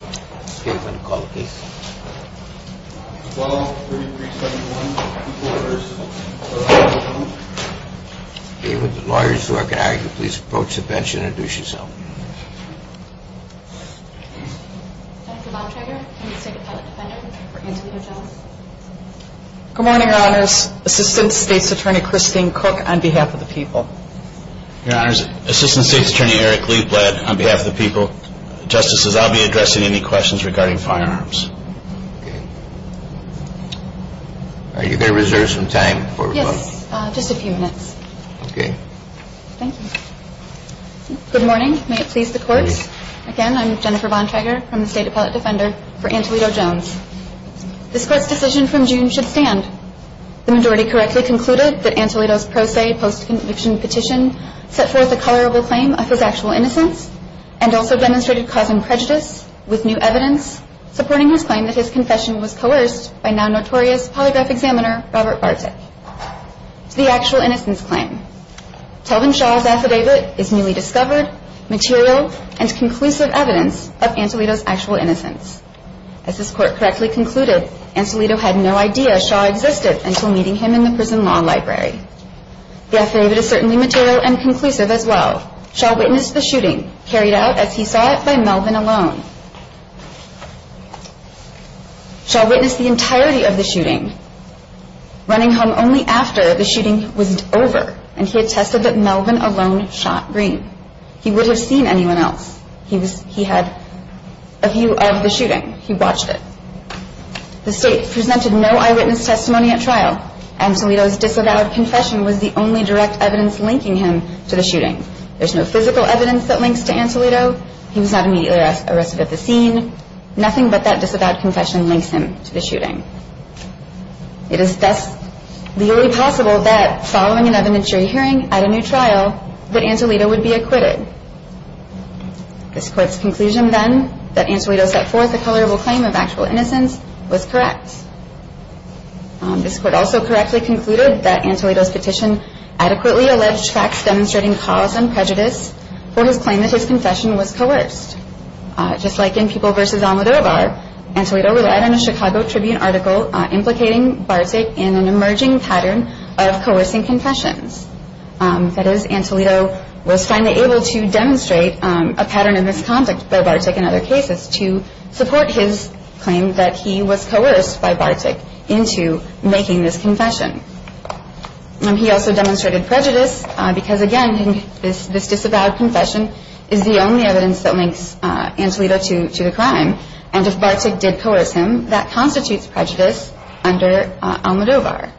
Good morning, Your Honors. Assistant State's Attorney Christine Cook on behalf of the people. Your Honors, Assistant State's Attorney Eric Lee Bled on behalf of the people. Justices, I'll be addressing any questions regarding firearms. Are you there reserved some time before we vote? Yes, just a few minutes. Okay. Thank you. Good morning. May it please the Court. Again, I'm Jennifer Von Traeger from the State Appellate Defender for Antelito Jones. This Court's decision from June should stand. The majority correctly concluded that Antelito's pro se post-conviction petition set forth a colorable claim of his actual innocence and also demonstrated cause and prejudice with new evidence, supporting his claim that his confession was coerced by now notorious polygraph examiner Robert Bartik. To the actual innocence claim, Telvin Shaw's affidavit is newly discovered, material, and conclusive evidence of Antelito's actual innocence. As this Court correctly concluded, Antelito had no idea Shaw existed until meeting him in the Prison Law Library. The affidavit is certainly material and conclusive as well. Shaw witnessed the shooting, carried out, as he saw it, by Melvin Alone. Shaw witnessed the entirety of the shooting, running home only after the shooting was over, and he attested that Melvin Alone shot Green. He would have seen anyone else. He had a view of the shooting. He watched it. The State presented no eyewitness testimony at trial. Antelito's disavowed confession was the only direct evidence linking him to the shooting. There's no physical evidence that links to Antelito. He was not immediately arrested at the scene. Nothing but that disavowed confession links him to the shooting. It is thus legally possible that, following an evidentiary hearing at a new trial, that Antelito would be acquitted. This Court's conclusion then, that Antelito set forth a colorable claim of actual innocence, was correct. This Court also correctly concluded that Antelito's petition adequately alleged facts demonstrating cause and prejudice for his claim that his confession was coerced. Just like in People v. Almodovar, Antelito relied on a Chicago Tribune article implicating Bartik in an emerging pattern of coercing confessions. That is, Antelito was finally able to demonstrate a pattern of misconduct by Bartik in other cases to support his claim that he was coerced by Bartik into making this confession. He also demonstrated prejudice because, again, this disavowed confession is the only evidence that links Antelito to the crime. And if Bartik did coerce him, that constitutes prejudice under Almodovar.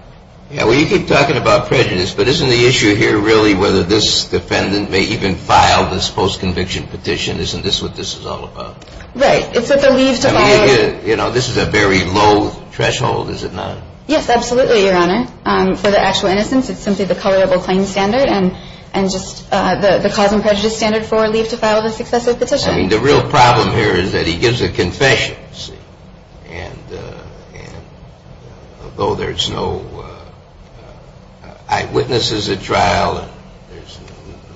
Yeah, well, you keep talking about prejudice, but isn't the issue here really whether this defendant may even file this post-conviction petition? Isn't this what this is all about? Right. It's at the leave to follow. I mean, you know, this is a very low threshold, is it not? Yes, absolutely, Your Honor. For the actual innocence, it's simply the colorable claim standard and just the cause and prejudice standard for leave to follow the successive petition. I mean, the real problem here is that he gives a confession, you see, and although there's no eyewitnesses at trial and there's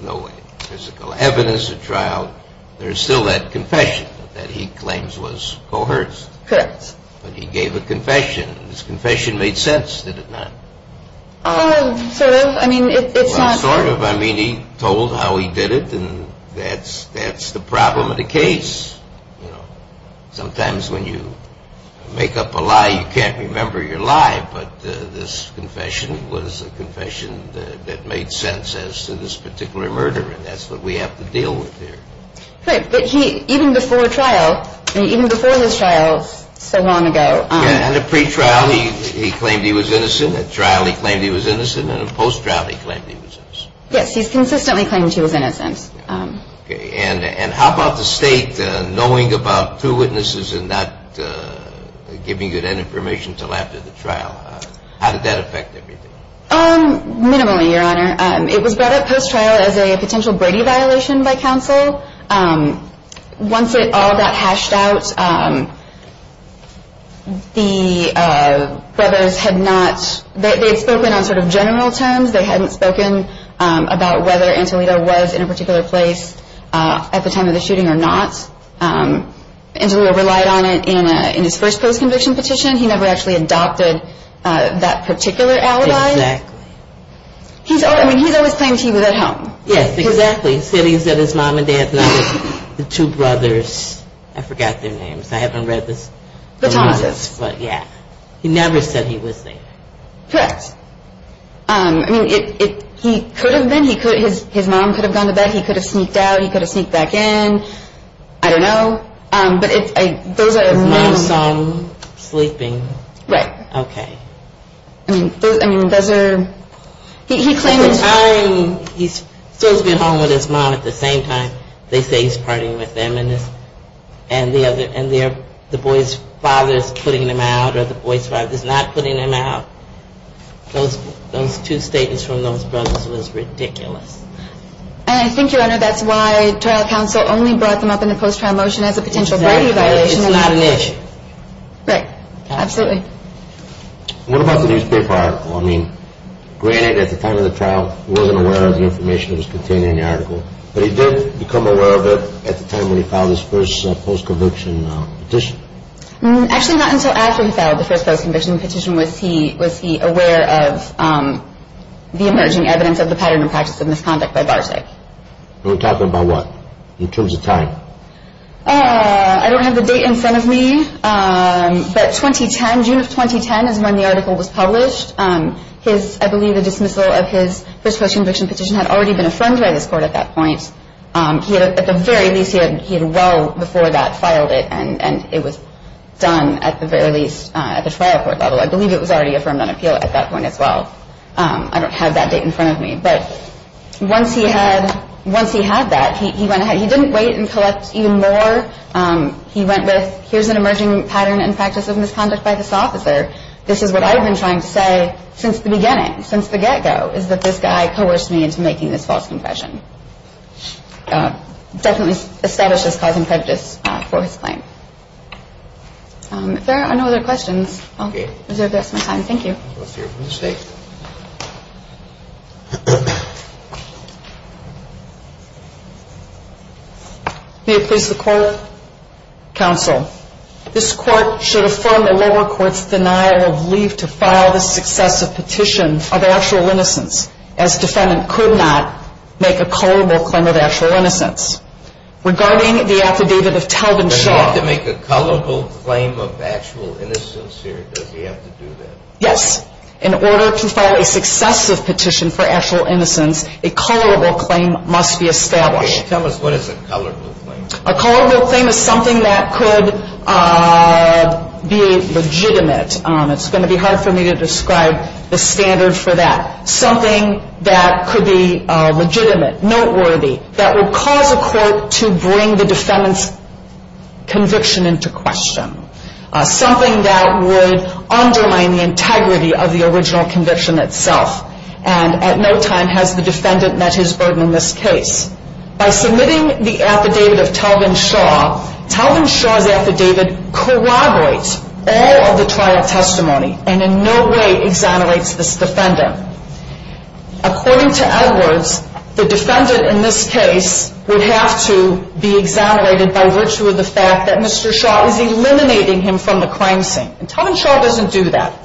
no physical evidence at trial, there's still that confession that he claims was coerced. Correct. But he gave a confession, and his confession made sense, did it not? Sort of. I mean, it's not... Well, sort of. I mean, he told how he did it, and that's the problem of the case. You know, sometimes when you make up a lie, you can't remember your lie, but this confession was a confession that made sense as to this particular murder, and that's what we have to deal with here. Right, but he, even before trial, even before his trial so long ago... Yeah, and at pretrial he claimed he was innocent, at trial he claimed he was innocent, and at post-trial he claimed he was innocent. Yes, he's consistently claimed he was innocent. Okay, and how about the State knowing about two witnesses and not giving you that information until after the trial? How did that affect everything? Minimally, Your Honor. It was brought up post-trial as a potential Brady violation by counsel. Once it all got hashed out, the brothers had not... They had spoken on sort of general terms. They hadn't spoken about whether Antolito was in a particular place at the time of the shooting or not. Antolito relied on it in his first post-conviction petition. He never actually adopted that particular alibi. Exactly. I mean, he's always claimed he was at home. Yes, exactly. He said he was at his mom and dad's, and the two brothers, I forgot their names. I haven't read the... The Thomas's. Yeah. He never said he was there. Correct. I mean, he could have been. His mom could have gone to bed. He could have sneaked out. He could have sneaked back in. I don't know, but those are... Mom's son sleeping. Right. Okay. I mean, those are... He claims... At the time, he's supposed to be at home with his mom at the same time. They say he's partying with them, and the boy's father's putting them out, or the boy's father's not putting them out. Those two statements from those brothers was ridiculous. And I think, Your Honor, that's why trial counsel only brought them up in the post-trial motion as a potential priority violation. Exactly. It's not an issue. Right. Absolutely. What about the newspaper article? I mean, granted, at the time of the trial, he wasn't aware of the information that was contained in the article, but he did become aware of it at the time when he filed his first post-conviction petition. Actually, not until after he filed the first post-conviction petition was he aware of the emerging evidence of the pattern and practice of misconduct by Bartek. You're talking about what, in terms of time? I don't have the date in front of me, but 2010, June of 2010 is when the article was published. I believe the dismissal of his first post-conviction petition had already been affirmed by this court at that point. At the very least, he had well before that filed it, and it was done at the very least at the trial court level. I believe it was already affirmed on appeal at that point as well. I don't have that date in front of me. But once he had that, he went ahead. He didn't wait and collect even more. He went with, here's an emerging pattern and practice of misconduct by this officer. This is what I've been trying to say since the beginning, since the get-go, is that this guy coerced me into making this false confession. Definitely established as causing prejudice for his claim. If there are no other questions, I'll reserve the rest of my time. Thank you. Let's hear from the State. May it please the Court, Counsel. This Court should affirm the lower court's denial of leave to file this successive petition of actual innocence, as defendant could not make a culpable claim of actual innocence. Regarding the affidavit of Taldon Shaw. Does he have to make a culpable claim of actual innocence here? Does he have to do that? Yes. In order to file a successive petition for actual innocence, a culpable claim must be established. Tell us what is a culpable claim. A culpable claim is something that could be legitimate. It's going to be hard for me to describe the standard for that. Something that could be legitimate, noteworthy, that would cause a court to bring the defendant's conviction into question. Something that would undermine the integrity of the original conviction itself and at no time has the defendant met his burden in this case. By submitting the affidavit of Taldon Shaw, Taldon Shaw's affidavit corroborates all of the trial testimony and in no way exonerates this defendant. According to Edwards, the defendant in this case would have to be exonerated by virtue of the fact that Mr. Shaw is eliminating him from the crime scene. Taldon Shaw doesn't do that.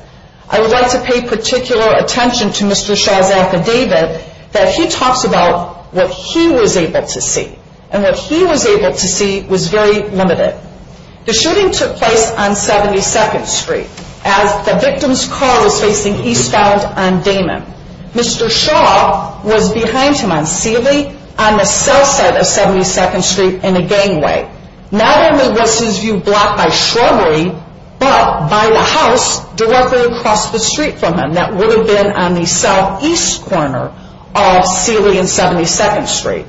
I would like to pay particular attention to Mr. Shaw's affidavit that he talks about what he was able to see. And what he was able to see was very limited. The shooting took place on 72nd Street as the victim's car was facing eastbound on Damon. Mr. Shaw was behind him on Sealy on the south side of 72nd Street in a gangway. Not only was his view blocked by shrubbery, but by the house directly across the street from him that would have been on the southeast corner of Sealy and 72nd Street.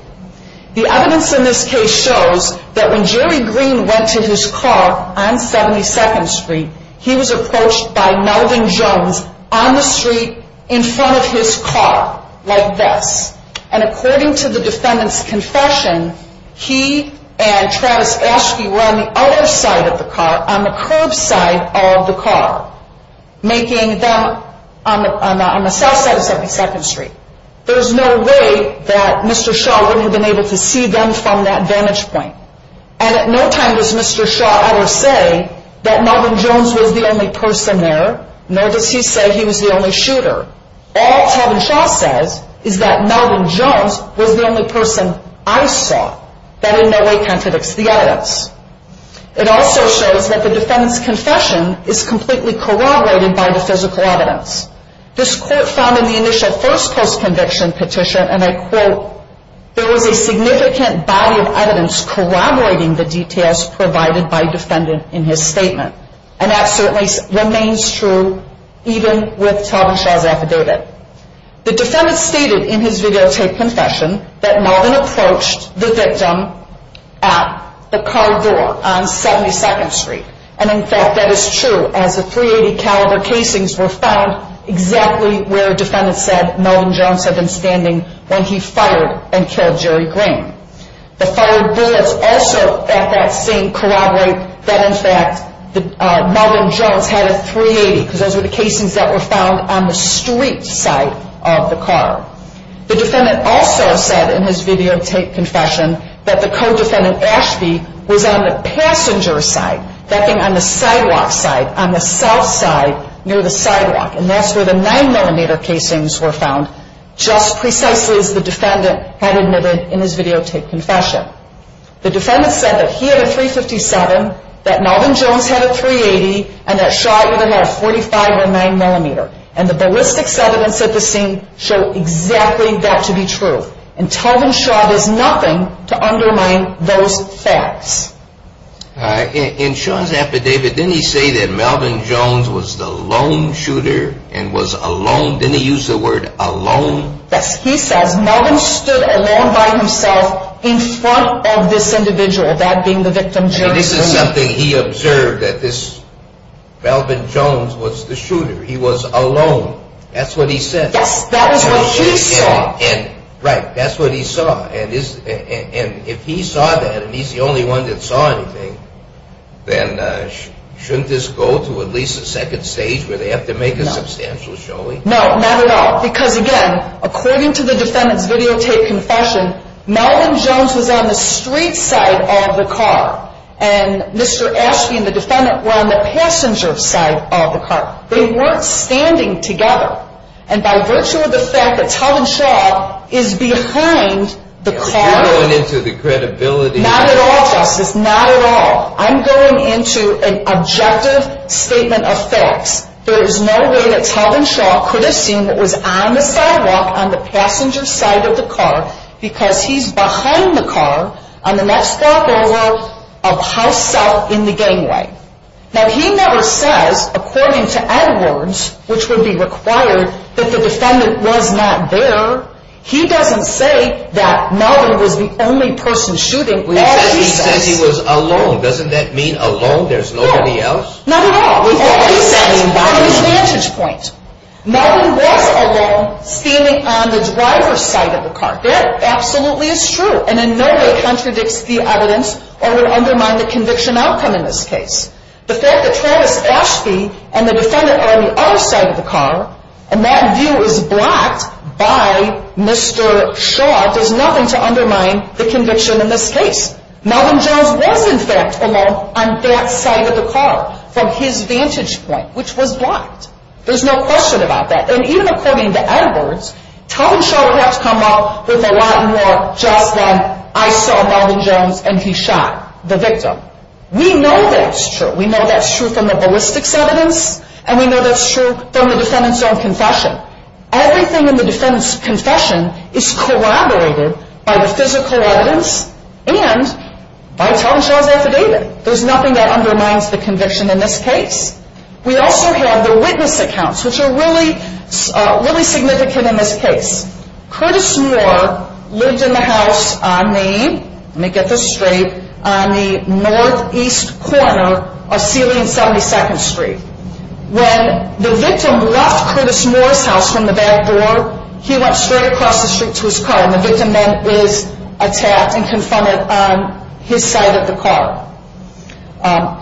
The evidence in this case shows that when Jerry Green went to his car on 72nd Street, he was approached by Melvin Jones on the street in front of his car like this. And according to the defendant's confession, he and Travis Ashkey were on the other side of the car, on the curbside of the car, making them on the south side of 72nd Street. There's no way that Mr. Shaw wouldn't have been able to see them from that vantage point. And at no time does Mr. Shaw ever say that Melvin Jones was the only person there, nor does he say he was the only shooter. All Talvin Shaw says is that Melvin Jones was the only person I saw. That in no way contradicts the evidence. It also shows that the defendant's confession is completely corroborated by the physical evidence. This court found in the initial first post-conviction petition, and I quote, there was a significant body of evidence corroborating the details provided by the defendant in his statement. And that certainly remains true even with Talvin Shaw's affidavit. The defendant stated in his videotape confession that Melvin approached the victim at the car door on 72nd Street. And in fact that is true, as the .380 caliber casings were found exactly where the defendant said that Melvin Jones had been standing when he fired and killed Jerry Graham. The fired bullets also at that scene corroborate that in fact Melvin Jones had a .380, because those were the casings that were found on the street side of the car. The defendant also said in his videotape confession that the co-defendant, Ashby, was on the passenger side, that thing on the sidewalk side, on the south side near the sidewalk. And that's where the 9mm casings were found, just precisely as the defendant had admitted in his videotape confession. The defendant said that he had a .357, that Melvin Jones had a .380, and that Shaw had a .45 or 9mm. And the ballistics evidence at the scene show exactly that to be true. And Talvin Shaw does nothing to undermine those facts. In Shaw's affidavit, didn't he say that Melvin Jones was the lone shooter and was alone? Didn't he use the word alone? Yes, he says Melvin stood alone by himself in front of this individual, that being the victim Jerry Graham. And this is something he observed, that this Melvin Jones was the shooter, he was alone. That's what he said. Yes, that is what he saw. Right, that's what he saw. And if he saw that, and he's the only one that saw anything, then shouldn't this go to at least a second stage where they have to make a substantial showing? No, not at all. Because again, according to the defendant's videotape confession, Melvin Jones was on the street side of the car, and Mr. Ashby and the defendant were on the passenger side of the car. They weren't standing together. And by virtue of the fact that Talvin Shaw is behind the car... You're going into the credibility... Not at all, Justice, not at all. I'm going into an objective statement of facts. There is no way that Talvin Shaw could have seen what was on the sidewalk on the passenger side of the car because he's behind the car on the next stopover of House South in the gangway. Now, he never says, according to Edwards, which would be required, that the defendant was not there. He doesn't say that Melvin was the only person shooting. He said he was alone. Doesn't that mean alone? There's nobody else? No, not at all. What does that mean by that? That's an advantage point. Melvin was alone, standing on the driver's side of the car. That absolutely is true, and in no way contradicts the evidence or would undermine the conviction outcome in this case. The fact that Travis Ashby and the defendant are on the other side of the car and that view is blocked by Mr. Shaw does nothing to undermine the conviction in this case. Melvin Jones was, in fact, alone on that side of the car from his vantage point, which was blocked. There's no question about that, and even according to Edwards, Telling Shaw would have to come up with a lot more just than, I saw Melvin Jones and he shot the victim. We know that's true. We know that's true from the ballistics evidence, and we know that's true from the defendant's own confession. Everything in the defendant's confession is corroborated by the physical evidence and by Telling Shaw's affidavit. There's nothing that undermines the conviction in this case. We also have the witness accounts, which are really significant in this case. Curtis Moore lived in the house on the, let me get this straight, on the northeast corner of ceiling 72nd Street. When the victim left Curtis Moore's house from the back door, he went straight across the street to his car, and the victim then was attacked and confronted on his side of the car.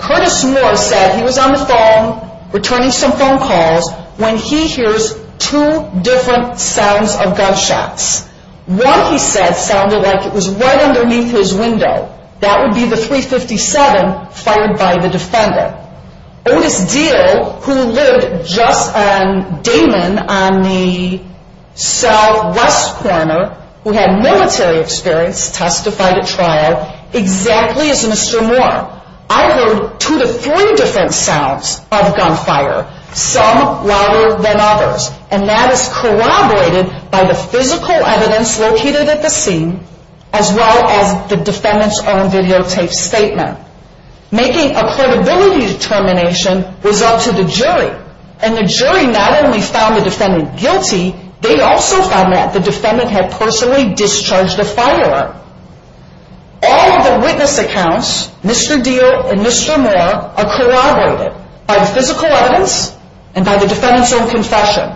Curtis Moore said he was on the phone, returning some phone calls, when he hears two different sounds of gunshots. One, he said, sounded like it was right underneath his window. That would be the .357 fired by the defendant. Otis Deal, who lived just on Damon on the southwest corner, who had military experience, testified at trial exactly as Mr. Moore. I heard two to three different sounds of gunfire, some louder than others, and that is corroborated by the physical evidence located at the scene, as well as the defendant's own videotape statement. Making a credibility determination was up to the jury, and the jury not only found the defendant guilty, they also found that the defendant had personally discharged a firearm. All of the witness accounts, Mr. Deal and Mr. Moore, are corroborated by the physical evidence and by the defendant's own confession.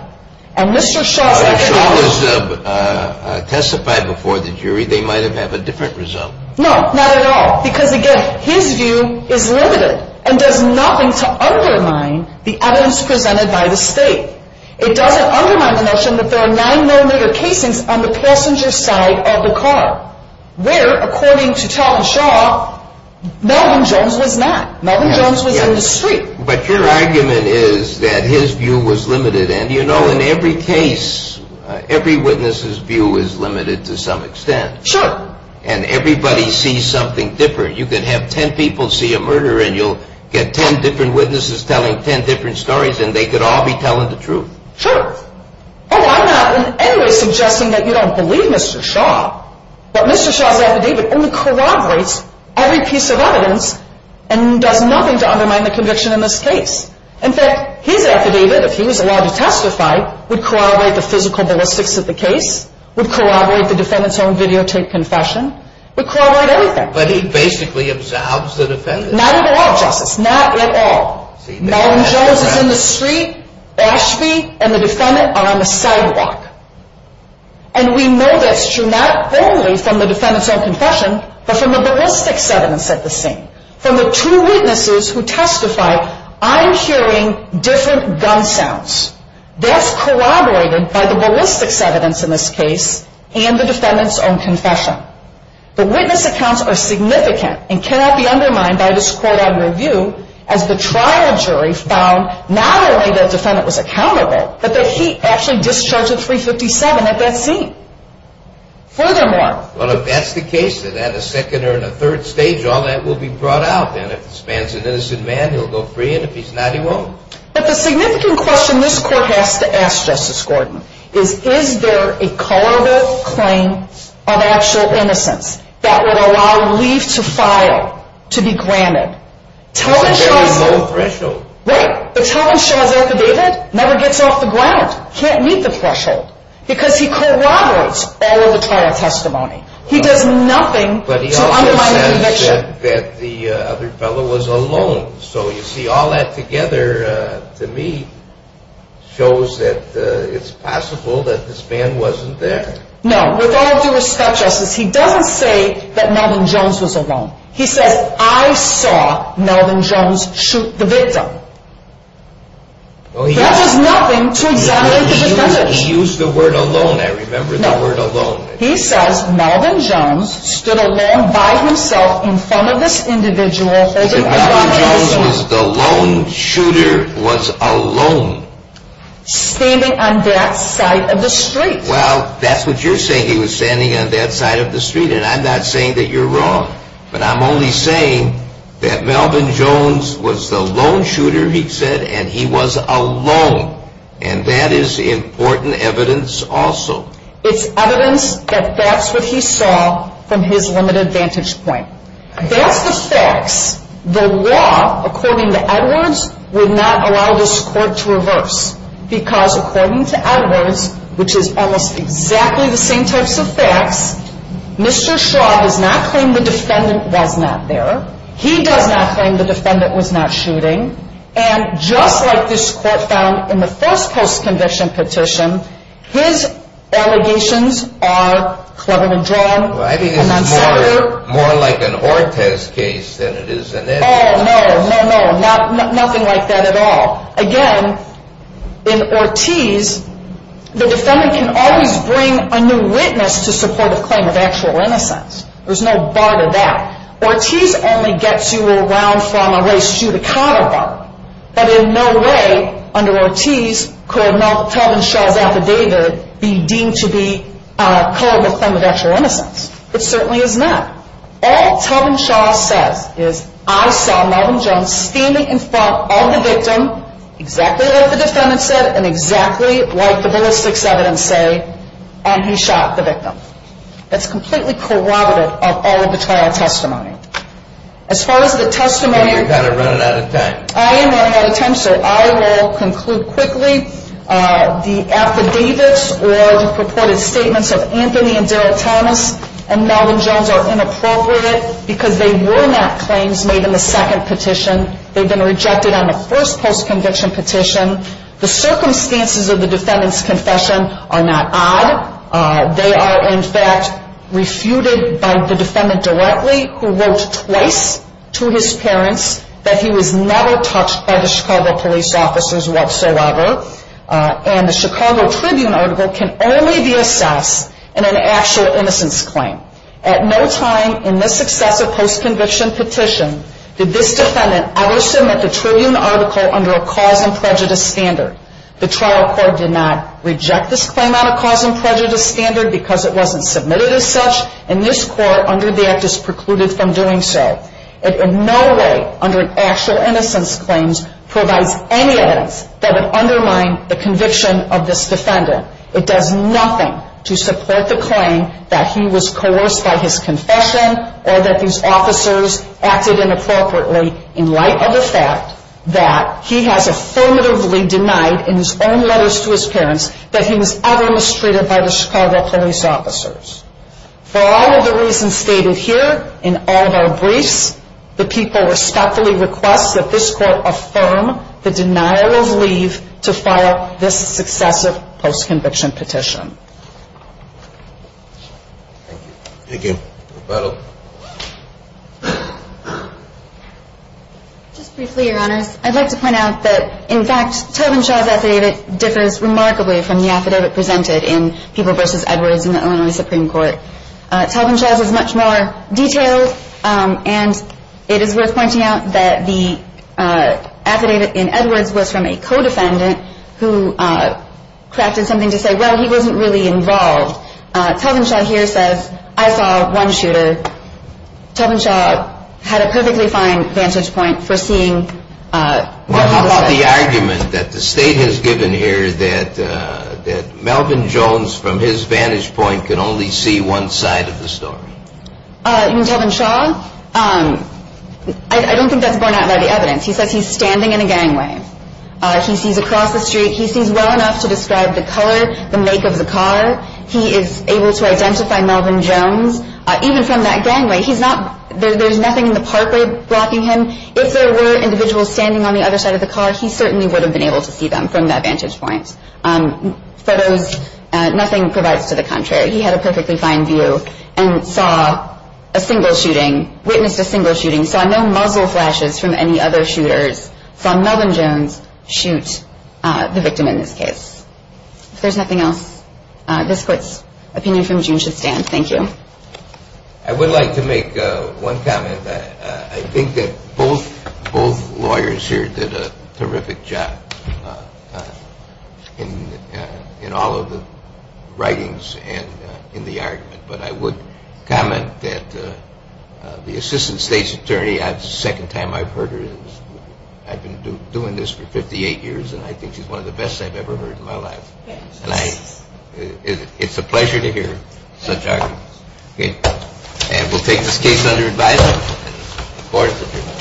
And Mr. Shaw... Shaw has testified before the jury, they might have had a different result. No, not at all, because again, his view is limited, and does nothing to undermine the evidence presented by the state. It doesn't undermine the notion that there are nine millimeter casings on the passenger side of the car, where, according to Tal and Shaw, Melvin Jones was not. Melvin Jones was in the street. But your argument is that his view was limited, and you know, in every case, every witness's view is limited to some extent. Sure. And everybody sees something different. You can have ten people see a murder, and you'll get ten different witnesses telling ten different stories, and they could all be telling the truth. Sure. Although I'm not in any way suggesting that you don't believe Mr. Shaw. But Mr. Shaw's affidavit only corroborates every piece of evidence, and does nothing to undermine the conviction in this case. In fact, his affidavit, if he was allowed to testify, would corroborate the physical ballistics of the case, would corroborate the defendant's own videotaped confession, would corroborate everything. But he basically absolves the defendant. Not at all, Justice. Not at all. Melvin Jones is in the street, Ashby and the defendant are on the sidewalk. And we know that's true not only from the defendant's own confession, but from the ballistics evidence at the scene. From the two witnesses who testified, I'm hearing different gun sounds. That's corroborated by the ballistics evidence in this case, and the defendant's own confession. The witness accounts are significant, and cannot be undermined by this court on review, as the trial jury found not only that the defendant was accountable, but that he actually discharged a .357 at that scene. Furthermore... Well, if that's the case, then at a second or a third stage, all that will be brought out, then. If this man's an innocent man, he'll go free, and if he's not, he won't. But the significant question this court has to ask, Justice Gordon, is is there a colorable claim of actual innocence that would allow leave to file to be granted? It's a very low threshold. Right, but Tillman shows up to David, never gets off the ground, can't meet the threshold. Because he corroborates all of the trial testimony. He does nothing to undermine the conviction. But he also says that the other fellow was alone. So, you see, all that together, to me, shows that it's possible that this man wasn't there. No, with all due respect, Justice, he doesn't say that Melvin Jones was alone. He says, I saw Melvin Jones shoot the victim. That does nothing to exonerate the defendant. He used the word alone, I remember the word alone. He says Melvin Jones stood alone by himself in front of this individual. Melvin Jones was the lone shooter, was alone. Standing on that side of the street. Well, that's what you're saying, he was standing on that side of the street. And I'm not saying that you're wrong. But I'm only saying that Melvin Jones was the lone shooter, he said, and he was alone. And that is important evidence also. It's evidence that that's what he saw from his limited vantage point. That's the facts. The law, according to Edwards, would not allow this court to reverse. Because according to Edwards, which is almost exactly the same types of facts, Mr. Shaw has not claimed the defendant was not there. He does not claim the defendant was not shooting. And just like this court found in the first post-conviction petition, his allegations are cleverly drawn. I think it's more like an Ortez case than it is an Edgerton case. Oh, no, no, no, nothing like that at all. Again, in Ortez, the defendant can always bring a new witness to support a claim of actual innocence. There's no bar to that. Ortez only gets you around from a race judicata bar. But in no way under Ortez could Melvin Shaw's affidavit be deemed to be a culpable claim of actual innocence. It certainly is not. All Tubman Shaw says is, I saw Melvin Jones standing in front of the victim, exactly like the defendant said, and exactly like the ballistics evidence say, and he shot the victim. That's completely corroborative of all of the trial testimony. As far as the testimony... Well, you're kind of running out of time. I am running out of time, sir. I will conclude quickly. The affidavits or the purported statements of Anthony and Derrick Thomas and Melvin Jones are inappropriate because they were not claims made in the second petition. They've been rejected on the first post-conviction petition. The circumstances of the defendant's confession are not odd. They are, in fact, refuted by the defendant directly, who wrote twice to his parents that he was never touched by the Chicago police officers whatsoever. And the Chicago Tribune article can only be assessed in an actual innocence claim. At no time in this successive post-conviction petition did this defendant ever submit the Tribune article under a cause-and-prejudice standard. The trial court did not reject this claim on a cause-and-prejudice standard because it wasn't submitted as such, and this court, under the Act, is precluded from doing so. It in no way, under actual innocence claims, provides any evidence that would undermine the conviction of this defendant. It does nothing to support the claim that he was coerced by his confession or that these officers acted inappropriately in light of the fact that he has affirmatively denied in his own letters to his parents that he was ever mistreated by the Chicago police officers. For all of the reasons stated here in all of our briefs, the people respectfully request that this court affirm the denial of leave to file this successive post-conviction petition. Thank you. Thank you. Rebecca? Just briefly, Your Honors, I'd like to point out that, in fact, Taubenshaw's affidavit differs remarkably from the affidavit presented in People v. Edwards in the Illinois Supreme Court. Taubenshaw's is much more detailed, and it is worth pointing out that the affidavit in Edwards was from a co-defendant who crafted something to say, well, he wasn't really involved. Taubenshaw here says, I saw one shooter. Taubenshaw had a perfectly fine vantage point for seeing what was said. How about the argument that the State has given here that Melvin Jones, from his vantage point, could only see one side of the story? You mean Taubenshaw? I don't think that's borne out by the evidence. He says he's standing in a gangway. He sees across the street. He sees well enough to describe the color, the make of the car. He is able to identify Melvin Jones. Even from that gangway, there's nothing in the parkway blocking him. If there were individuals standing on the other side of the car, he certainly would have been able to see them from that vantage point. For those, nothing provides to the contrary. He had a perfectly fine view and saw a single shooting, witnessed a single shooting, saw no muzzle flashes from any other shooters, saw Melvin Jones shoot the victim in this case. If there's nothing else, this court's opinion from June should stand. Thank you. I would like to make one comment. I think that both lawyers here did a terrific job in all of the writings and in the argument. But I would comment that the Assistant State's Attorney, the second time I've heard her, I've been doing this for 58 years, and I think she's one of the best I've ever heard in my life. It's a pleasure to hear such arguments. And we'll take this case under advisement. Court is adjourned.